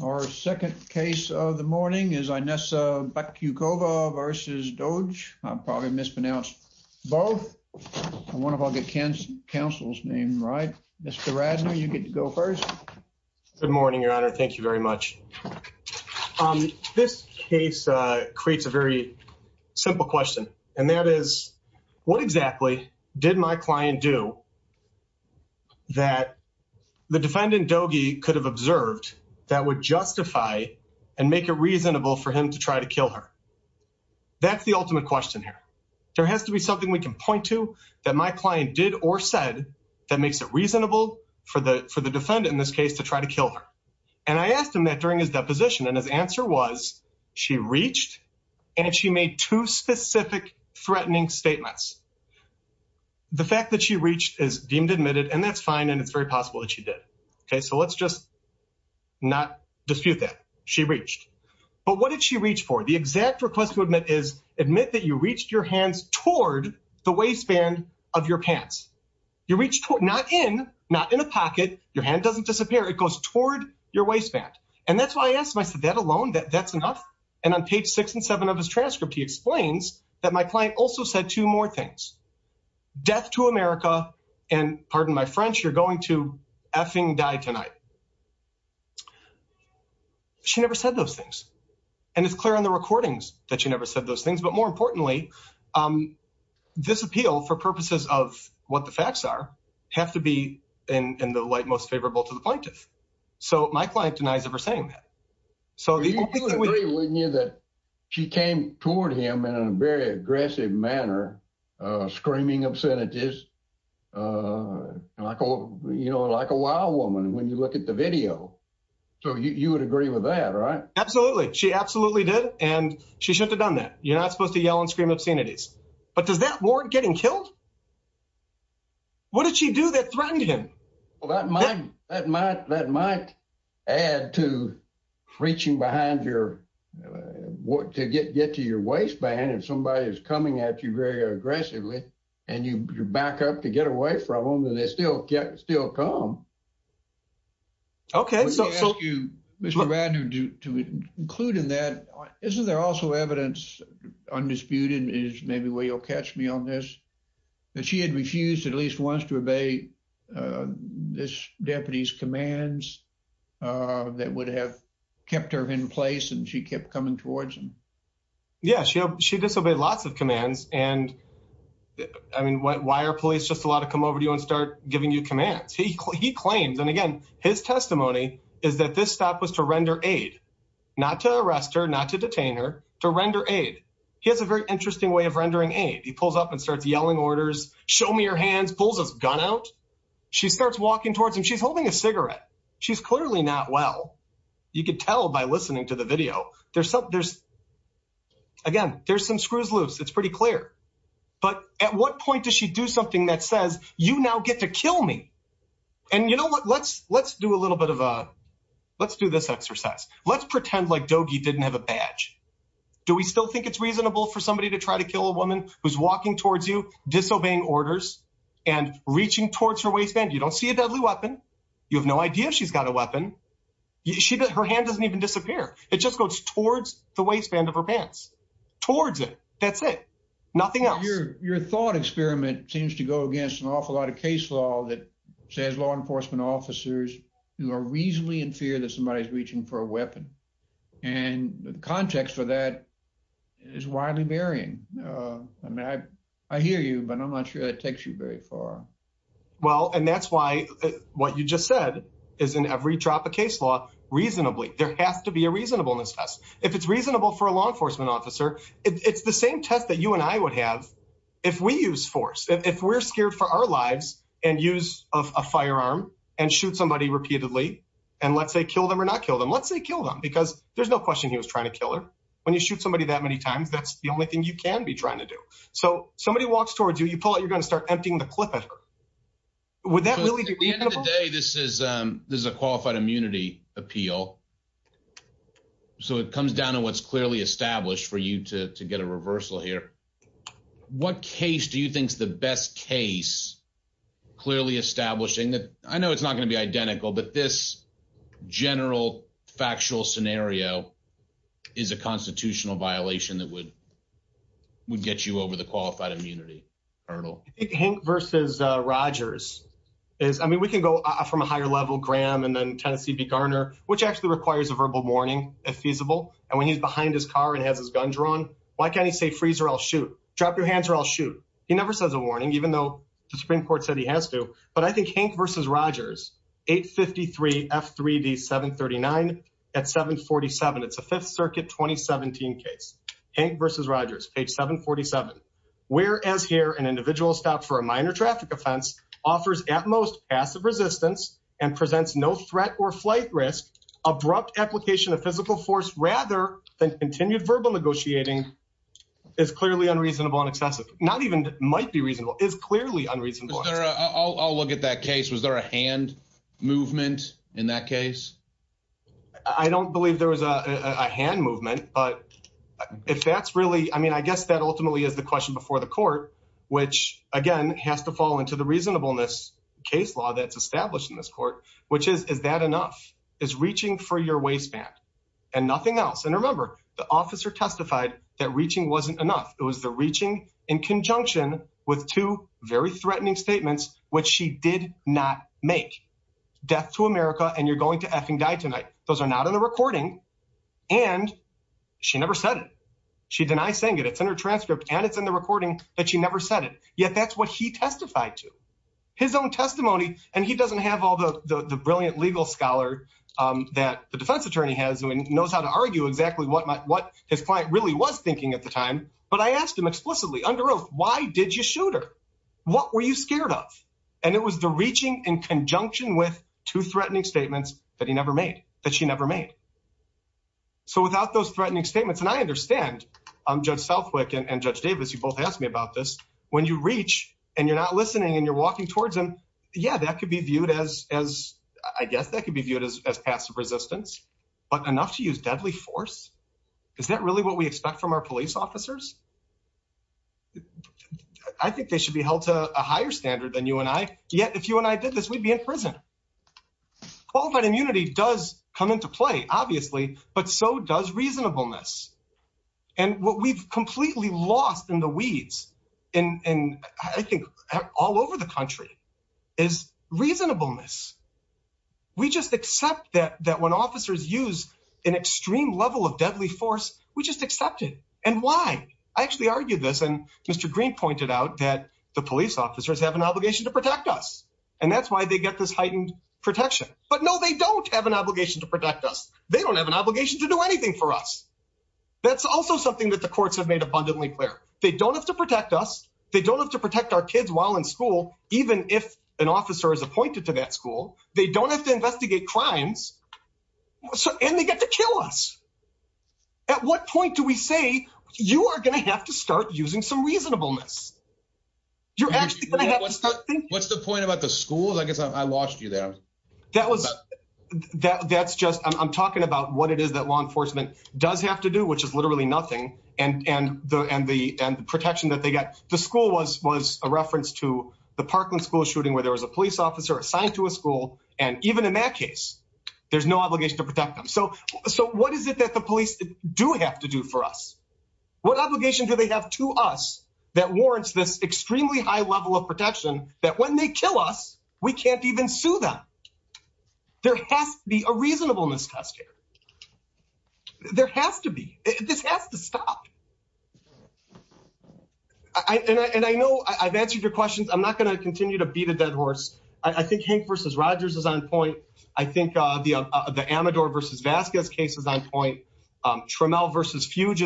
Our second case of the morning is Inessa Bakyukova v. Doege. I probably mispronounced both. I wonder if I'll get counsel's name right. Mr. Radner, you get to go first. Good morning, your honor. Thank you very much. This case creates a very simple question, and that is, what exactly did my client do that the defendant Doege could have observed that would justify and make it reasonable for him to try to kill her? That's the ultimate question here. There has to be something we can point to that my client did or said that makes it reasonable for the defendant in this case to try to kill her. And I asked him that during his deposition, and his answer was she reached, and she made two specific threatening statements. The fact that she reached is deemed admitted, and that's fine, and it's very possible that she did. So let's just not dispute that. She reached. But what did she reach for? The exact request to admit is, admit that you reached your hands toward the waistband of your pants. Not in, not in a pocket. Your hand doesn't disappear. It goes toward your waistband. And that's why I asked him. I said, that alone, that's enough? And on page six and seven of his transcript, he explains that my client also said two more things. Death to America, and pardon my French, you're going to effing die tonight. She never said those things. And it's clear on the recordings that she never said those things. But more importantly, this appeal, for purposes of what the facts are, have to be in the light most favorable to the plaintiff. So my client denies ever saying that. So- You would agree, wouldn't you, that she came toward him in a very aggressive manner, screaming obscenities, like a, you know, like a wild woman when you look at the video. So you would agree with that, right? Absolutely. She absolutely did. And she shouldn't have done that. You're not supposed to yell and scream obscenities. But does that warrant getting killed? What did she do that threatened him? Well, that might, that might, that might add to reaching behind your, what, to get, get to your waistband if somebody is coming at you very aggressively, and you back up to get away from them, and they still get, still come. Okay, so- Let me ask you, Mr. Radner, to include in that, isn't there also evidence, undisputed, is maybe where you'll catch me on this, that she had refused at least once to obey this deputy's commands that would have kept her in place, and she kept coming towards him? Yeah, she, she disobeyed lots of commands. And I mean, why are police just allowed to come over to you and start giving you commands? He claims, and again, his testimony is that this stop was to render aid, not to arrest her, not to detain her, to render aid. He has a very interesting way of rendering aid. He pulls up and starts yelling orders, show me your hands, pulls his gun out. She starts walking towards him. She's holding a cigarette. She's clearly not well. You could tell by listening to the video. There's some, there's, again, there's some screws loose. It's pretty clear. But at what point does she do something that says, you now get to kill me? And you know what, let's, let's do a little bit of a, let's do this exercise. Let's pretend like Dogi didn't have a badge. Do we still think it's reasonable for somebody to try to kill a woman who's walking towards you, disobeying orders, and reaching towards her waistband? You don't see a deadly weapon. You have no idea if she's got a weapon. She, her hand doesn't even disappear. It just goes towards the waistband of her pants, towards it. That's it. Nothing else. Your thought experiment seems to go against an awful lot of case law that says law enforcement officers who are reasonably in fear that somebody is reaching for a weapon. And the context for that is widely varying. I mean, I hear you, but I'm not sure that takes you very far. Well, and that's why what you just said is in every drop of case law, reasonably, there has to be a reasonableness test. If it's reasonable for a law enforcement officer, it's the same test that you and I would have if we use force. If we're scared for our lives and use a firearm and shoot somebody repeatedly, and let's say kill them or not kill them, let's say kill them because there's no question he was trying to kill her. When you shoot somebody that many times, that's the only thing you can be trying to do. So somebody walks you, you pull out, you're going to start emptying the clip. Would that really be reasonable? At the end of the day, this is a qualified immunity appeal. So it comes down to what's clearly established for you to get a reversal here. What case do you think is the best case, clearly establishing that, I know it's not going to be identical, but this general factual scenario is a constitutional violation that would get you over the qualified immunity hurdle. I think Hank versus Rogers is, I mean, we can go from a higher level, Graham and then Tennessee v. Garner, which actually requires a verbal warning if feasible. And when he's behind his car and has his gun drawn, why can't he say, freeze or I'll shoot, drop your hands or I'll shoot? He never says a warning, even though the Supreme Court said he has to. But I think Hank versus Rogers, 853 F3D 739 at 747, it's a 5th Circuit 2017 case. Hank versus Rogers, page 747. Whereas here, an individual stopped for a minor traffic offense, offers at most passive resistance and presents no threat or flight risk, abrupt application of physical force rather than continued verbal negotiating is clearly unreasonable and excessive. Not even might be reasonable, is clearly unreasonable. I'll look at that case. Was there a hand movement in that case? I don't believe there was a hand movement, but if that's really, I mean, I guess that ultimately is the question before the court, which again, has to fall into the reasonableness case law that's established in this court, which is, is that enough? Is reaching for your waistband and nothing else? And remember, the officer testified that reaching wasn't enough. It was the reaching in conjunction with two very threatening statements, which she did not make. Death to Hank and die tonight. Those are not in the recording. And she never said it. She denies saying it. It's in her transcript and it's in the recording that she never said it. Yet that's what he testified to. His own testimony. And he doesn't have all the brilliant legal scholar that the defense attorney has and knows how to argue exactly what his client really was thinking at the time. But I asked him explicitly under oath, why did you shoot her? What were you scared of? And it was the reaching in conjunction with two threatening statements that he never made, that she never made. So without those threatening statements, and I understand, um, judge Southwick and judge Davis, you both asked me about this when you reach and you're not listening and you're walking towards him. Yeah, that could be viewed as, as I guess that could be viewed as, as passive resistance, but enough to use deadly force. Is that really what expect from our police officers? I think they should be held to a higher standard than you and I. Yet, if you and I did this, we'd be in prison. Qualified immunity does come into play obviously, but so does reasonableness. And what we've completely lost in the weeds and I think all over the country is reasonableness. We just accept that, that when officers use an extreme level of and why I actually argued this and Mr. Green pointed out that the police officers have an obligation to protect us and that's why they get this heightened protection. But no, they don't have an obligation to protect us. They don't have an obligation to do anything for us. That's also something that the courts have made abundantly clear. They don't have to protect us. They don't have to protect our kids while in school. Even if an officer is appointed to that at what point do we say you are going to have to start using some reasonableness? What's the point about the schools? I guess I lost you there. That's just, I'm talking about what it is that law enforcement does have to do, which is literally nothing and the protection that they get. The school was a reference to the Parkland school shooting where there was a police officer assigned to a school and even in that case, there's no obligation to protect them. So what is it that the police, do have to do for us? What obligation do they have to us that warrants this extremely high level of protection that when they kill us, we can't even sue them. There has to be a reasonableness test here. There has to be. This has to stop. And I know I've answered your questions. I'm not going to continue to beat a dead horse. I think Hank versus Rogers is on point. I think the Amador versus Vasquez case is on point. Trammell versus Fuge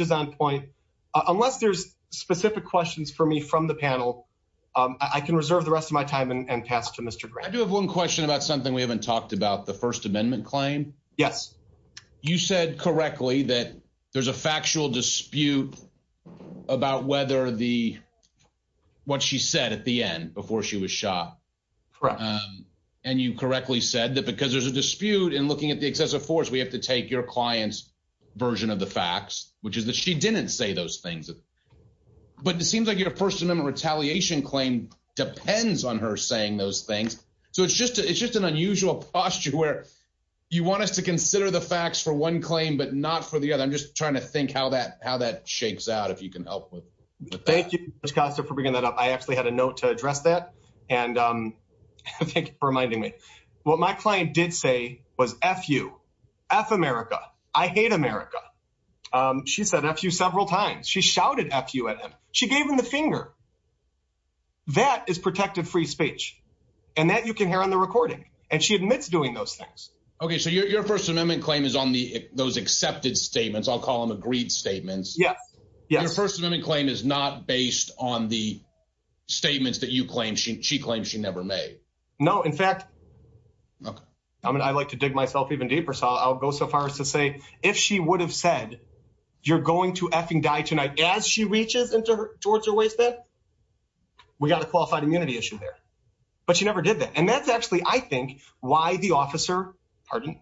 is on point. Unless there's specific questions for me from the panel, I can reserve the rest of my time and pass to Mr. Grant. I do have one question about something we haven't talked about, the First Amendment claim. Yes. You said correctly that there's a factual dispute about whether the, what she said at the end before she was shot. And you correctly said that because there's a dispute in looking at the excessive force, we have to take your client's version of the facts, which is that she didn't say those things. But it seems like your First Amendment retaliation claim depends on her saying those things. So it's just, it's just an unusual posture where you want us to consider the facts for one claim, but not for the other. I'm just trying to think how that, shakes out, if you can help with that. Thank you, Mr. Costa, for bringing that up. I actually had a note to address that. And thank you for reminding me. What my client did say was F you, F America. I hate America. She said F you several times. She shouted F you at him. She gave him the finger. That is protective free speech. And that you can hear on the recording. And she admits doing those things. Okay. So your, your First Amendment claim is on the, those accepted statements. I'll call them agreed statements. Yes. Your First Amendment claim is not based on the statements that you claim she, she claims she never made. No. In fact, I mean, I like to dig myself even deeper. So I'll go so far as to say, if she would have said, you're going to F-ing die tonight, as she reaches into towards her waistband, we got a qualified immunity issue there. But she never did that. And that's actually, I think, why the officer, pardon,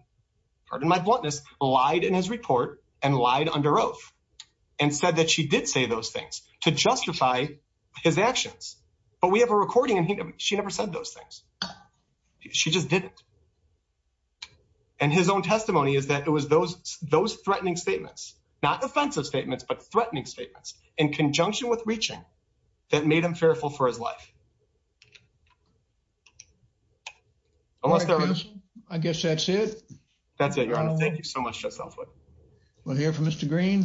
pardon my bluntness, lied in his report and lied under oath and said that she did say those things to justify his actions. But we have a recording and he, she never said those things. She just didn't. And his own testimony is that it was those, those threatening statements, not offensive statements, but threatening statements in conjunction with reaching that made him fearful for his life. I guess that's it. That's it, Mr. Green.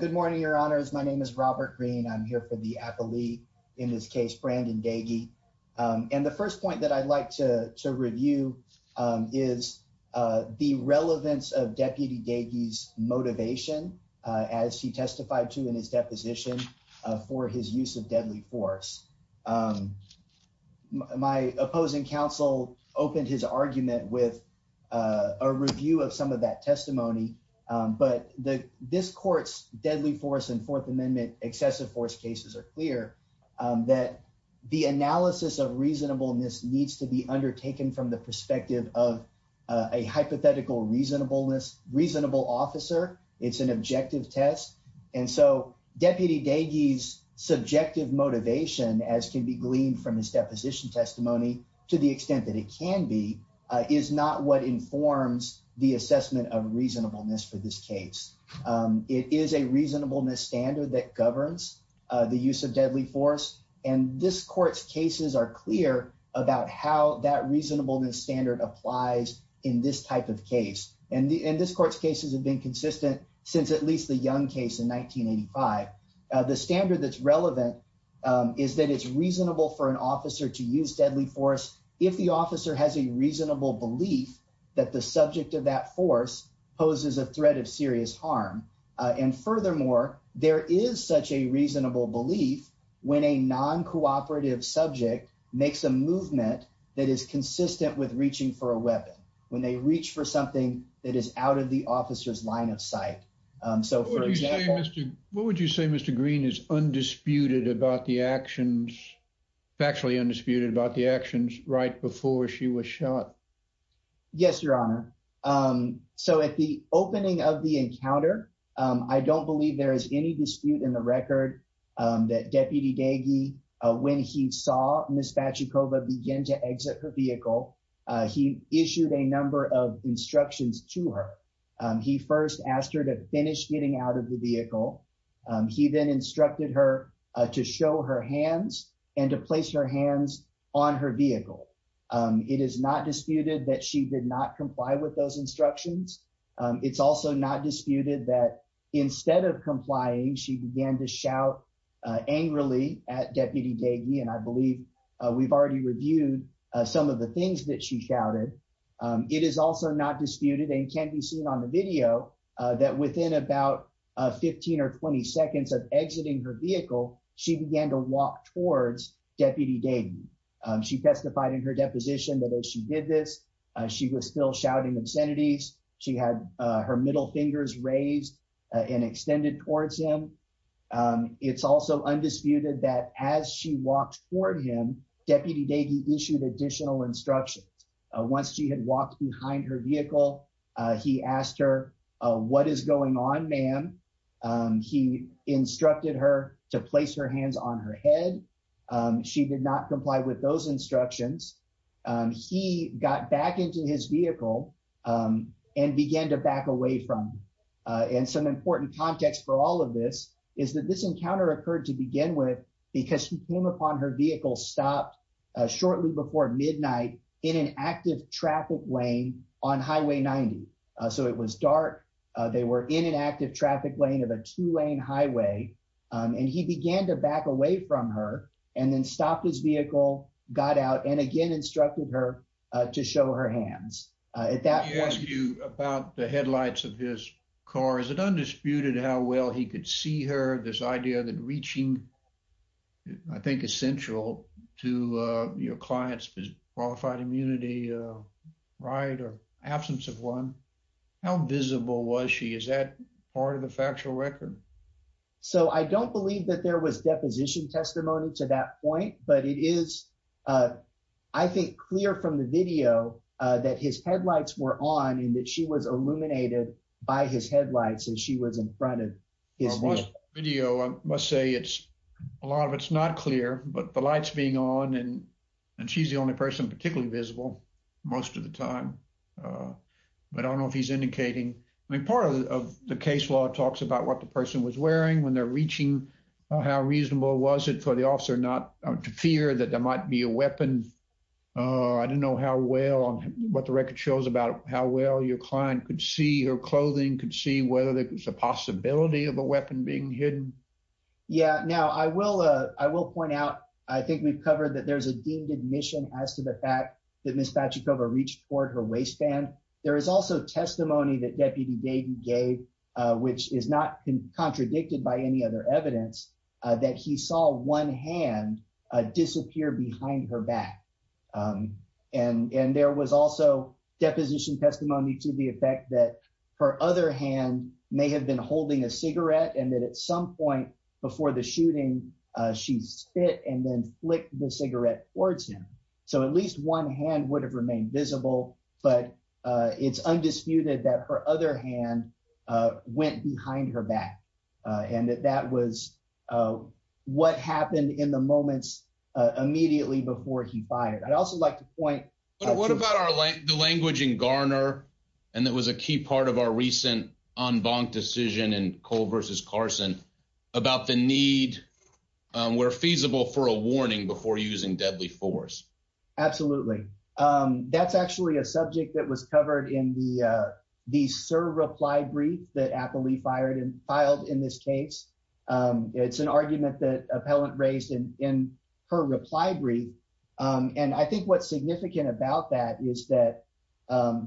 Good morning, Your Honors. My name is Robert Green. I'm here for the appellee in this case, Brandon Daigie. And the first point that I'd like to review is the relevance of Deputy Daigie's motivation as he testified to in his deposition for his use of deadly force. My opposing counsel opened his argument with a review of some of that testimony. But this court's deadly force and Fourth Amendment excessive force cases are clear that the analysis of reasonableness needs to be undertaken from the perspective of a hypothetical reasonableness, reasonable officer. It's an objective test. And so, Deputy Daigie's subjective motivation, as can be gleaned from his deposition testimony, to the extent that it can be, is not what informs the assessment of reasonableness for this case. It is a reasonableness standard that governs the use of deadly force. And this court's cases are clear about how that reasonableness standard applies in this type of case. And this court's been consistent since at least the Young case in 1985. The standard that's relevant is that it's reasonable for an officer to use deadly force if the officer has a reasonable belief that the subject of that force poses a threat of serious harm. And furthermore, there is such a reasonable belief when a non-cooperative subject makes a movement that is consistent with reaching for a line of sight. What would you say, Mr. Green, is undisputed about the actions, factually undisputed about the actions, right before she was shot? Yes, Your Honor. So, at the opening of the encounter, I don't believe there is any dispute in the record that Deputy Daigie, when he saw Ms. Fachikova begin to exit her vehicle, he issued a number of instructions to her. He first asked her to finish getting out of the vehicle. He then instructed her to show her hands and to place her hands on her vehicle. It is not disputed that she did not comply with those instructions. It's also not disputed that instead of complying, she began to shout angrily at Deputy Daigie, and I believe we've already reviewed some of the things that she shouted. It is also not disputed, and can be seen on the video, that within about 15 or 20 seconds of exiting her vehicle, she began to walk towards Deputy Daigie. She testified in her deposition that as she did this, she was still shouting obscenities. She had her middle fingers raised and extended towards him. It's also undisputed that as she walked toward him, Deputy Daigie issued additional instructions. Once she had walked behind her vehicle, he asked her, what is going on, ma'am? He instructed her to place her hands on her head. She did not comply with those instructions. He got back into his vehicle and began to back away from him. And some important context for all of this is that this encounter occurred to begin with because he came upon her vehicle stopped shortly before midnight in an active traffic lane on Highway 90. So it was dark. They were in an active traffic lane of a two-lane highway, and he began to back away from her, and then stopped his vehicle, got out, and again instructed her to show her hands. At that point... Let me ask you about the headlights of his I think essential to your client's qualified immunity, right, or absence of one. How visible was she? Is that part of the factual record? So I don't believe that there was deposition testimony to that point, but it is, I think, clear from the video that his headlights were on and that she was illuminated by his headlights as she was in front of his vehicle. The video, I must say, a lot of it's not clear, but the lights being on and she's the only person particularly visible most of the time. But I don't know if he's indicating... I mean, part of the case law talks about what the person was wearing when they're reaching, how reasonable was it for the officer not to fear that there might be a weapon. I don't know how well, what the record shows about how well your client could see her clothing, could see whether there was a possibility of a weapon being hidden. Yeah, now I will point out, I think we've covered that there's a deemed admission as to the fact that Ms. Pachikova reached for her waistband. There is also testimony that Deputy Dayton gave, which is not contradicted by any other evidence, that he saw one hand disappear behind her back. And there was also deposition testimony to the effect that her other hand may have been holding a cigarette and that at some point before the shooting, she spit and then flicked the cigarette towards him. So at least one hand would have remained visible, but it's undisputed that her other hand went behind her back and that that was what happened in the moments immediately before he fired. I'd also like to point... of our recent en banc decision in Cole versus Carson, about the need where feasible for a warning before using deadly force. Absolutely. That's actually a subject that was covered in the the sir reply brief that Applee filed in this case. It's an argument that appellant raised in in her reply brief. And I think what's significant about that is that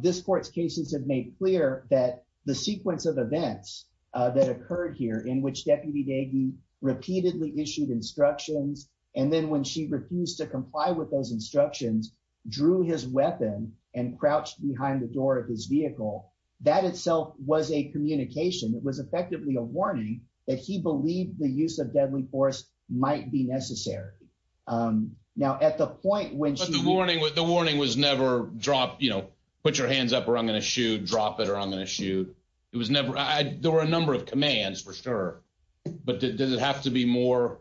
this court's cases have made clear that the sequence of events that occurred here in which Deputy Dayton repeatedly issued instructions and then when she refused to comply with those instructions, drew his weapon and crouched behind the door of his vehicle, that itself was a communication. It was effectively a warning that he believed the use of deadly force might be necessary. Now at the point when... the warning was never drop, you know, put your hands up or I'm going to shoot, drop it or I'm going to shoot. It was never... there were a number of commands for sure, but did it have to be more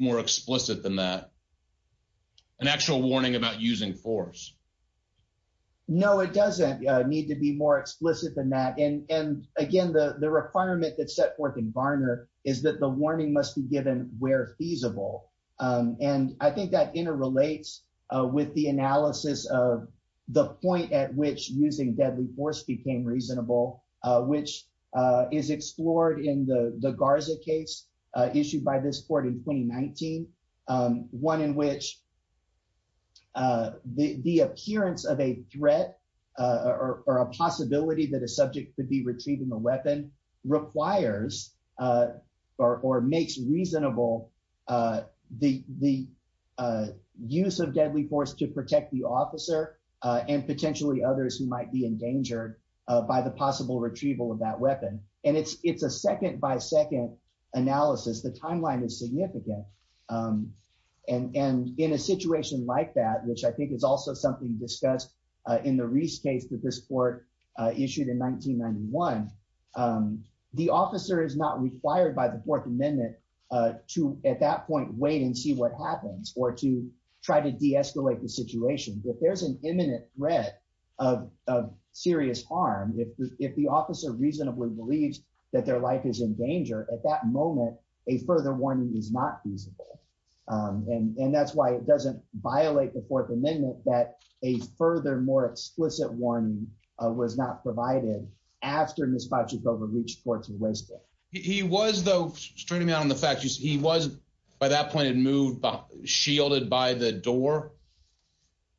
more explicit than that? An actual warning about using force? No, it doesn't need to be more explicit than that. And again, the requirement that's set forth in Varner is that the warning must be given where feasible. And I think that interrelates with the analysis of the point at which using deadly force became reasonable, which is explored in the Garza case issued by this court in 2019. One in which the appearance of a threat or a possibility that a subject could be retrieving a weapon requires or makes reasonable the use of deadly force to protect the officer and potentially others who might be endangered by the possible retrieval of that weapon. And it's a second by second analysis. The timeline is significant. And in a situation like that, which I think is also something discussed in the Reese case that this court issued in 1991, the officer is not required by the Fourth Amendment to, at that point, wait and see what happens or to try to de-escalate the situation. If there's an imminent threat of serious harm, if the officer reasonably believes that their life is in danger, at that moment, a further warning is not feasible. And that's why it doesn't violate the Fourth Amendment that a further, more explicit warning was not provided after Ms. Pachukova reached Forte Weston. He was though, straightening out on the fact, he was by that point had moved, shielded by the door?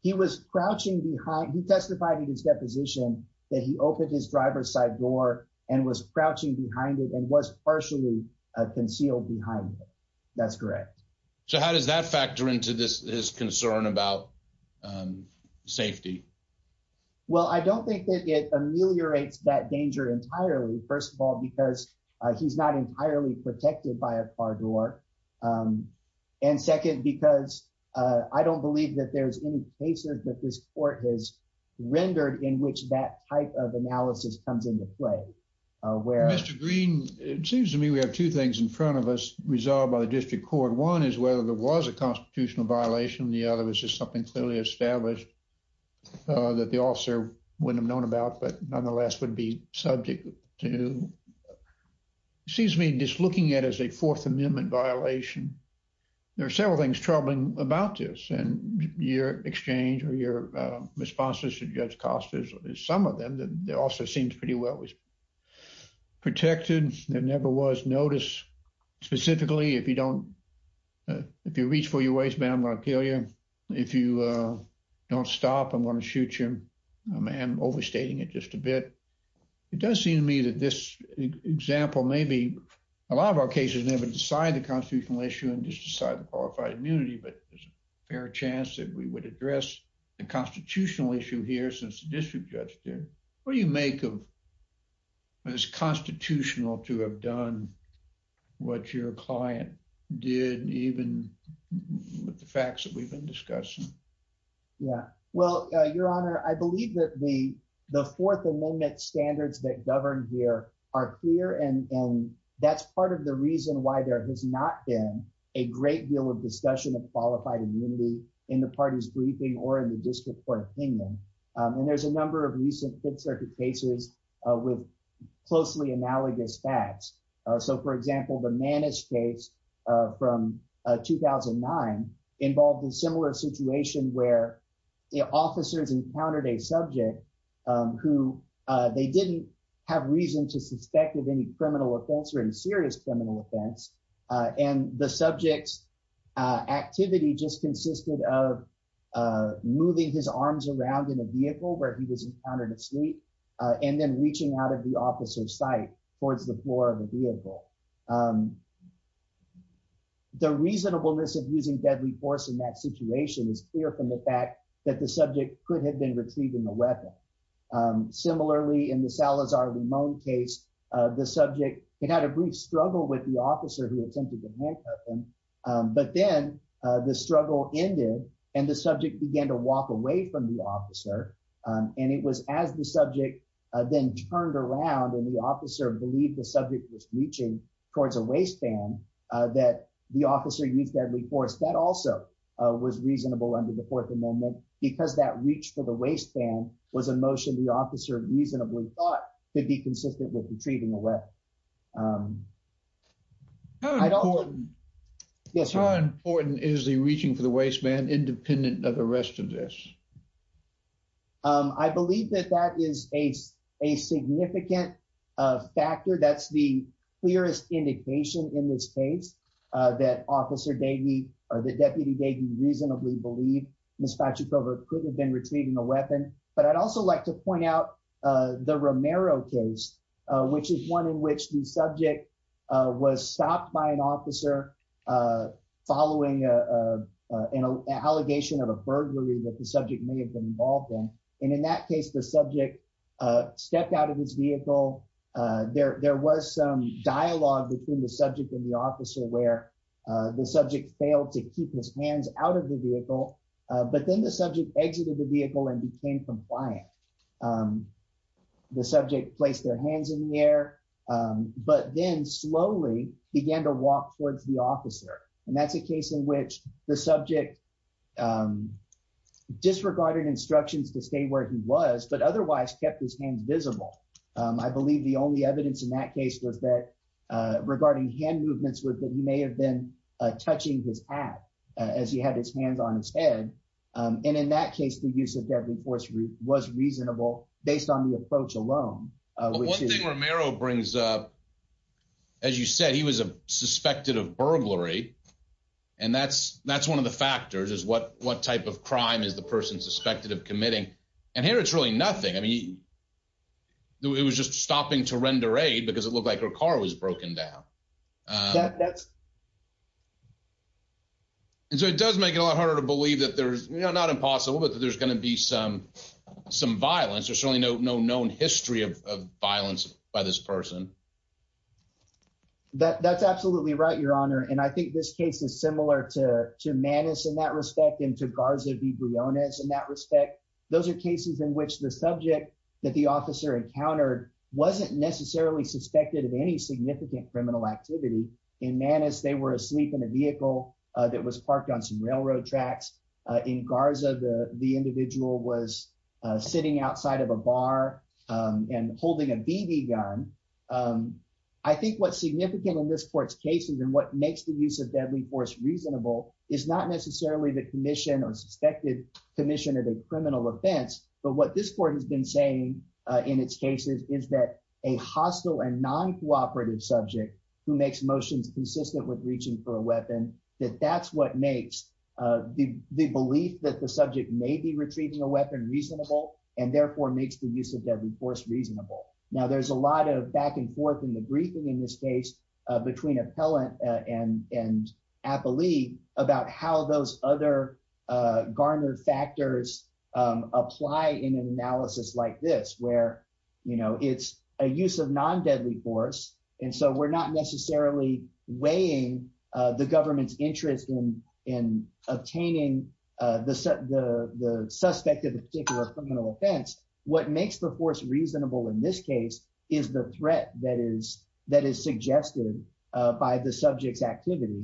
He was crouching behind, he testified in his deposition that he opened his driver's side door and was crouching behind it and was partially concealed behind it. That's correct. So how does that factor into this, his concern about safety? Well, I don't think that it ameliorates that danger entirely, first of all, because he's not entirely protected by a car door. And second, because I don't believe that there's any cases that this court has rendered in which that type of analysis comes into play. Mr. Green, it seems to me we have two things in front of us resolved by the district court. One is whether there was a constitutional violation. The other was just something clearly established that the officer wouldn't have known about, but nonetheless would be subject to. It seems to me just looking at it as a Fourth Amendment violation, there are several things troubling about this and your exchange or your responses to Judge Costa is some of them that also seems pretty well protected. There never was notice, specifically, if you reach for your waistband, I'm going to kill you. If you don't stop, I'm going to shoot you. I'm overstating it just a bit. It does seem to me that this example, maybe a lot of our cases never decide the constitutional issue and just decide the qualified immunity, but there's a fair chance that we would address the constitutional issue here since the district judge did. What do you make of as constitutional to have done what your client did, even with the facts that we've been discussing? Yeah, well, Your Honor, I believe that the Fourth Amendment standards that govern here are clear, and that's part of the reason why there has not been a great deal of discussion of qualified immunity in the party's briefing or in the district court opinion. There's a number of recent Fifth Circuit cases with closely analogous facts. For example, the Manish case from 2009 involved a similar situation where the officers encountered a subject who they didn't have reason to suspect of any criminal offense or any serious criminal offense, and the subject's activity just consisted of moving his arms around in a vehicle where he was encountered asleep and then reaching out of the officer's sight towards the floor of the vehicle. The reasonableness of using deadly force in that situation is clear from the fact that the subject could have been retrieving the weapon. Similarly, in the Salazar-Limon case, the subject had had a brief struggle with the officer who attempted to handcuff him, but then the struggle ended and the subject began to walk away from the officer, and it was as the subject then turned around and the officer believed the subject was reaching towards a waistband that the officer used deadly force. That also was reasonable under the Fourth Amendment because that reach for the waistband was a motion the officer reasonably thought could be consistent with retrieving a weapon. How important is the reaching for the waistband independent of the rest of this? I believe that that is a significant factor. That's the clearest indication in this case that Officer Davey or that Deputy Davey reasonably believed could have been retrieving a weapon. I'd also like to point out the Romero case, which is one in which the subject was stopped by an officer following an allegation of a burglary that the subject may have been involved in. In that case, the subject stepped out of his vehicle. There was some dialogue between the subject and the officer where the subject failed to keep his vehicle, but then the subject exited the vehicle and became compliant. The subject placed their hands in the air, but then slowly began to walk towards the officer, and that's a case in which the subject disregarded instructions to stay where he was, but otherwise kept his hands visible. I believe the only evidence in that case was that regarding hand movements, he may have been touching his hat as he had his hands on his head. In that case, the use of deadly force was reasonable based on the approach alone. One thing Romero brings up, as you said, he was suspected of burglary, and that's one of the factors is what type of crime is the person suspected of committing. Here, it's really nothing. It was just stopping to breathe. It does make it a lot harder to believe that there's not impossible, but that there's going to be some violence. There's certainly no known history of violence by this person. That's absolutely right, Your Honor, and I think this case is similar to Manus in that respect and to Garza V. Briones in that respect. Those are cases in which the subject that the officer encountered wasn't necessarily suspected of any significant criminal activity in Manus. They were asleep in a vehicle that was parked on some railroad tracks. In Garza, the individual was sitting outside of a bar and holding a BB gun. I think what's significant in this court's cases and what makes the use of deadly force reasonable is not necessarily the commission or suspected commission of a criminal offense, but what this court has been saying in its cases is that a hostile and non-cooperative subject who makes motions consistent with reaching for a weapon, that that's what makes the belief that the subject may be retrieving a weapon reasonable and therefore makes the use of deadly force reasonable. Now, there's a lot of back and forth in the briefing in this case between appellant and appellee about how those other garnered factors apply in an analysis like this where, you know, it's a use of non-deadly force, and so we're not necessarily weighing the government's interest in obtaining the suspect of a particular criminal offense. What makes the force reasonable in this case is the threat that is suggested by the subject's activity.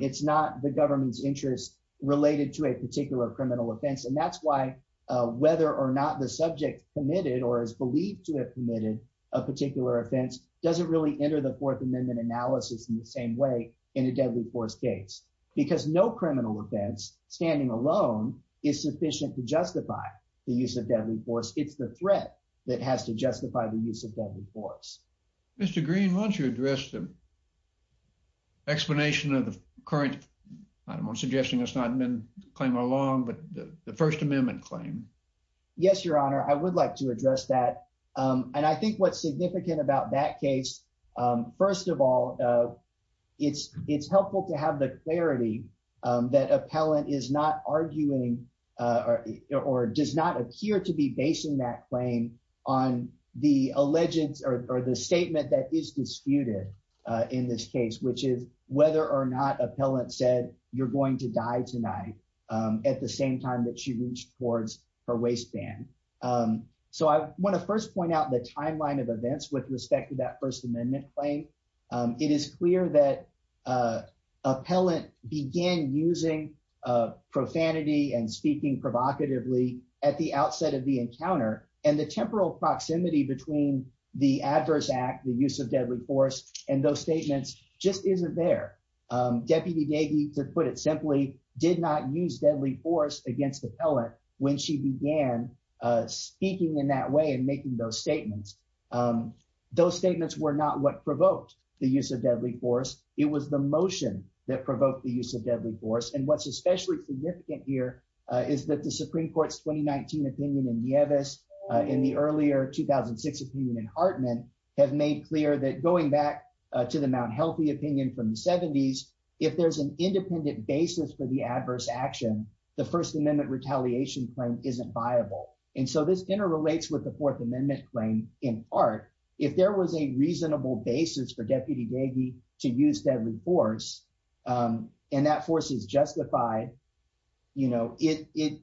It's not the government's interest related to a criminal offense, and that's why whether or not the subject committed or is believed to have committed a particular offense doesn't really enter the Fourth Amendment analysis in the same way in a deadly force case because no criminal offense standing alone is sufficient to justify the use of deadly force. It's the threat that has to justify the use of deadly force. Mr. Green, why don't you address the explanation of the current, I don't want to suggest that it's been claimed all along, but the First Amendment claim? Yes, Your Honor, I would like to address that, and I think what's significant about that case, first of all, it's helpful to have the clarity that appellant is not arguing or does not appear to be basing that claim on the allegiance or the statement that is disputed in this case, which is whether or not appellant said you're going to die tonight at the same time that she reached towards her waistband. So I want to first point out the timeline of events with respect to that First Amendment claim. It is clear that appellant began using profanity and speaking provocatively at the outset of the encounter, and the temporal proximity between the adverse act, the use of deadly force, and those statements just isn't there. Deputy Davey, to put it simply, did not use deadly force against appellant when she began speaking in that way and making those statements. Those statements were not what provoked the use of deadly force. It was the motion that provoked the use of deadly force, and what's especially significant here is that the Supreme Court's 2019 opinion in Nieves, in the earlier 2006 opinion in Hartman, have made clear that going back to the Mt. Healthy opinion from the 70s, if there's an independent basis for the adverse action, the First Amendment retaliation claim isn't viable. And so this interrelates with the Fourth Amendment claim in part. If there was a reasonable basis for Deputy Davey to use deadly force, and that force is justified, you know, it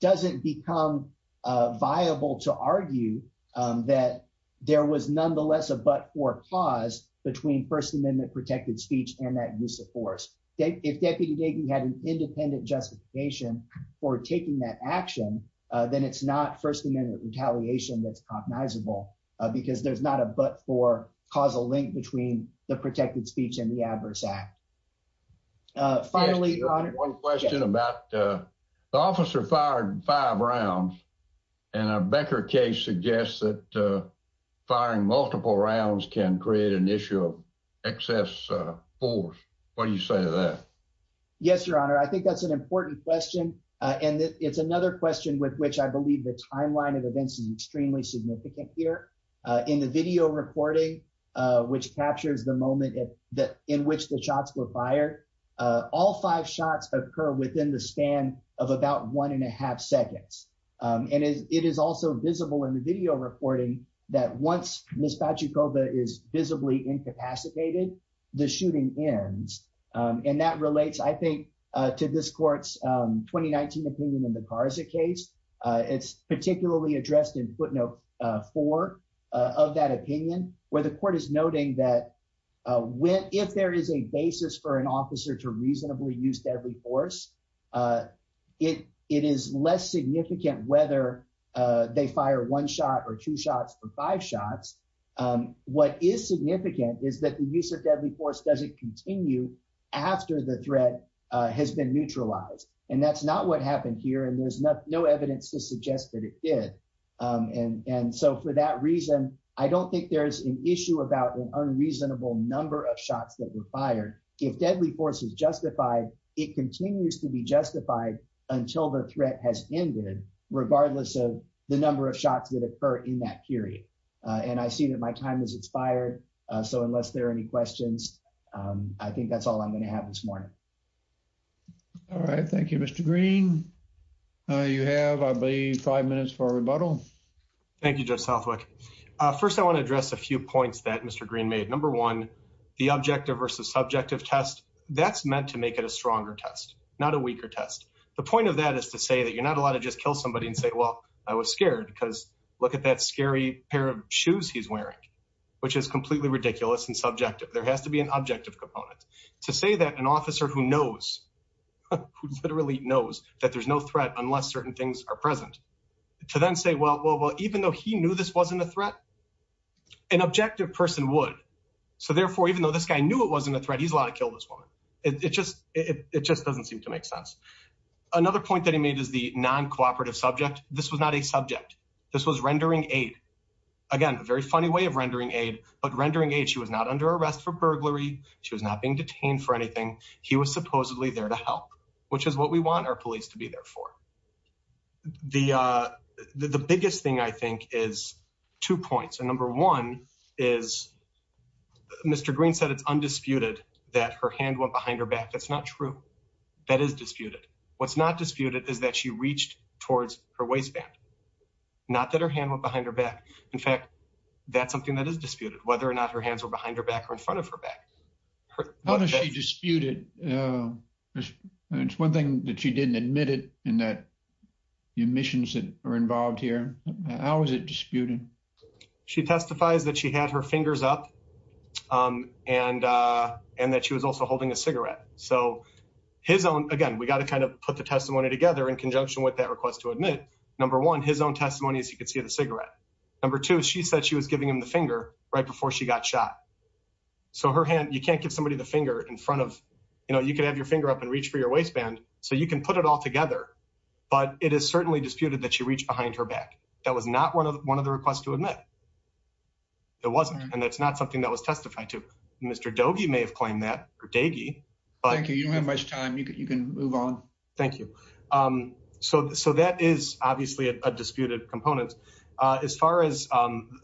doesn't become viable to argue that there was nonetheless a but-for clause between First Amendment protected speech and that use of force. If Deputy Davey had an independent justification for taking that action, then it's not First Amendment retaliation that's cognizable, because there's not a but-for causal link between the protected speech and the adverse act. Finally, Your Honor, one question about the officer fired five rounds, and a Becker case suggests that firing multiple rounds can create an issue of excess force. What do you say to that? Yes, Your Honor, I think that's an important question, and it's another question with which I believe the timeline of events is extremely significant here. In the video recording, which captures the moment in which the shots were fired, all five shots occur within the span of about one and a half seconds. And it is also visible in the video recording that once Ms. Pachucoba is visibly incapacitated, the shooting ends. And that relates, I think, to this Court's 2019 opinion in the Carza case. It's particularly addressed in footnote four of that opinion, where the Court is noting that if there is a basis for an officer to reasonably use deadly force, it is less significant whether they fire one shot or two shots or five shots. What is significant is that the use of deadly force doesn't continue after the threat has been neutralized. And that's not what happened here, and there's no evidence to suggest that it did. And so for that reason, I don't think there's an issue about an unreasonable number of shots that were fired. If deadly force is justified, it continues to be justified until the threat has ended, regardless of the number of shots that occur in that period. And I see that my time has expired, so unless there are any questions, I think that's all I'm going to have this morning. All right, thank you, Mr. Green. You have, I believe, five minutes for a rebuttal. Thank you, Judge Southwick. First, I want to address a few points that Mr. Green made. Number one, the objective versus subjective test, that's meant to make it a stronger test, not a weaker test. The point of that is to say that you're not allowed to just kill somebody and say, well, I was scared because look at that scary pair of shoes he's wearing, which is completely ridiculous and subjective. There has to be an objective component. To say that an officer who knows, who literally knows that there's no threat unless certain things are present, to then say, well, even though he knew this wasn't a threat, an objective person would. So therefore, even though this guy knew it wasn't a threat, he's allowed to kill this woman. It just doesn't seem to make sense. Another point that he made is the non-cooperative subject. This was not a subject. This was rendering aid. Again, a very funny way of rendering aid, but rendering aid, she was not under arrest for burglary. She was not being detained for anything. He was supposedly there to help, which is what we want our police to be there for. The biggest thing, I think, is two points. And number one is Mr. Green said it's undisputed that her hand went behind her back. That's not true. That is disputed. What's not disputed is that she reached towards her waistband. Not that her hand went behind her back. In fact, that's something that is disputed, whether or not her hands were behind her back or in front of her back. How does she dispute it? It's one thing that she didn't admit it and that the omissions that are involved here, how is it disputed? She testifies that she had her fingers up and that she was also holding a cigarette. So his own, again, we got to kind of put the testimony together in conjunction with that request to admit. Number one, his own testimony is he could see the cigarette. Number two, she said she was giving him the finger right before she got shot. So her hand, you can't give somebody the finger in front of, you know, you could have your finger up and reach for your waistband, so you can put it all together. But it is certainly disputed that she reached behind her back. That was not one of the requests to admit. It wasn't. And that's not something that was testified to. Mr. Doege may have claimed that, or Daigie. Thank you. You don't have much time. You can move on. Thank you. So that is obviously a disputed component. As far as,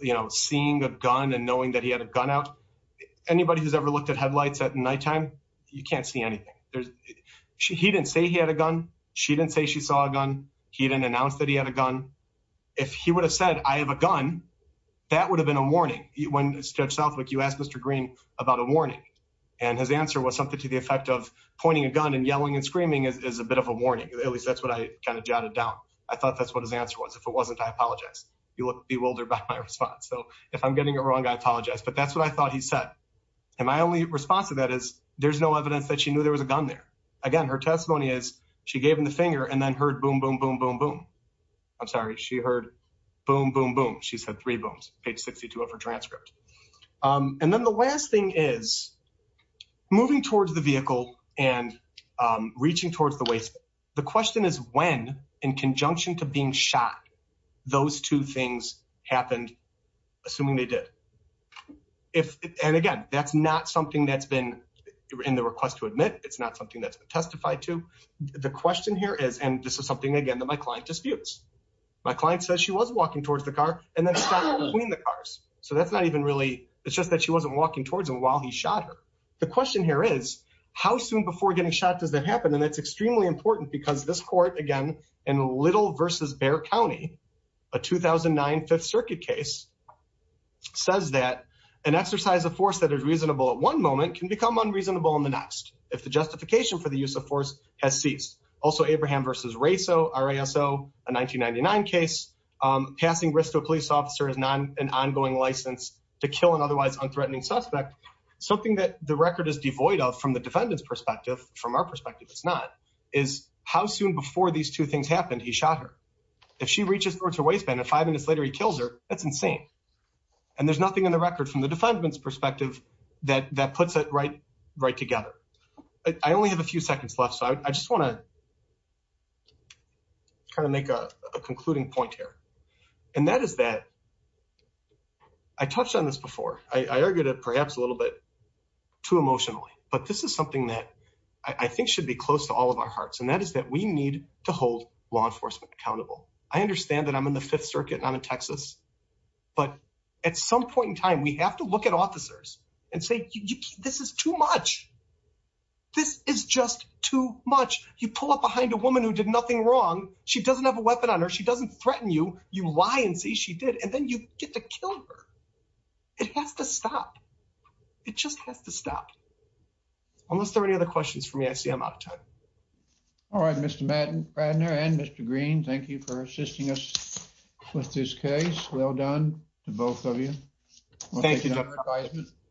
you know, seeing a gun and knowing that he had a gun out, anybody who's ever looked at headlights at nighttime, you can't see anything. He didn't say he had a gun. She didn't say she saw a gun. He didn't announce that he had a gun. If he would have said, I have a gun, that would have been a warning. When Judge Southwick, you asked Mr. Green about a warning, and his answer was something to the warning. At least that's what I kind of jotted down. I thought that's what his answer was. If it wasn't, I apologize. You look bewildered by my response. So if I'm getting it wrong, I apologize. But that's what I thought he said. And my only response to that is, there's no evidence that she knew there was a gun there. Again, her testimony is, she gave him the finger and then heard boom, boom, boom, boom, boom. I'm sorry. She heard boom, boom, boom. She said three booms, page 62 of her transcript. And then the last thing is moving towards the vehicle and reaching towards the waist. The question is when, in conjunction to being shot, those two things happened, assuming they did. And again, that's not something that's been in the request to admit. It's not something that's been testified to. The question here is, and this is something again, that my client disputes. My client says she was walking towards the car and then stopped between the cars. So that's not even really, it's just that she wasn't walking towards him while he shot her. The question here is, how soon before getting shot does that happen? And that's extremely important because this court, again, in Little versus Bexar County, a 2009 Fifth Circuit case, says that an exercise of force that is reasonable at one moment can become unreasonable in the next if the justification for the use of force has ceased. Also Abraham versus Raso, R-A-S-O, a 1999 case, passing risk to a police officer is not an ongoing license to kill an otherwise unthreatening suspect. Something that the record is devoid of from the defendant's perspective, from our perspective it's not, is how soon before these two things happened, he shot her. If she reaches towards her waistband and five minutes later he kills her, that's insane. And there's nothing in the record from the defendant's perspective that puts it right Concluding point here, and that is that I touched on this before. I argued it perhaps a little bit too emotionally, but this is something that I think should be close to all of our hearts. And that is that we need to hold law enforcement accountable. I understand that I'm in the Fifth Circuit and I'm in Texas, but at some point in time, we have to look at officers and say, this is too much. This is just too much. You pull up behind a woman who did nothing wrong. She doesn't have a weapon on her. She doesn't threaten you. You lie and say she did. And then you get to kill her. It has to stop. It just has to stop. Unless there are any other questions for me, I see I'm out of time. All right, Mr. Madden, Bradner and Mr. Green, thank you for assisting us with this case. Well done to both of you. Thank you.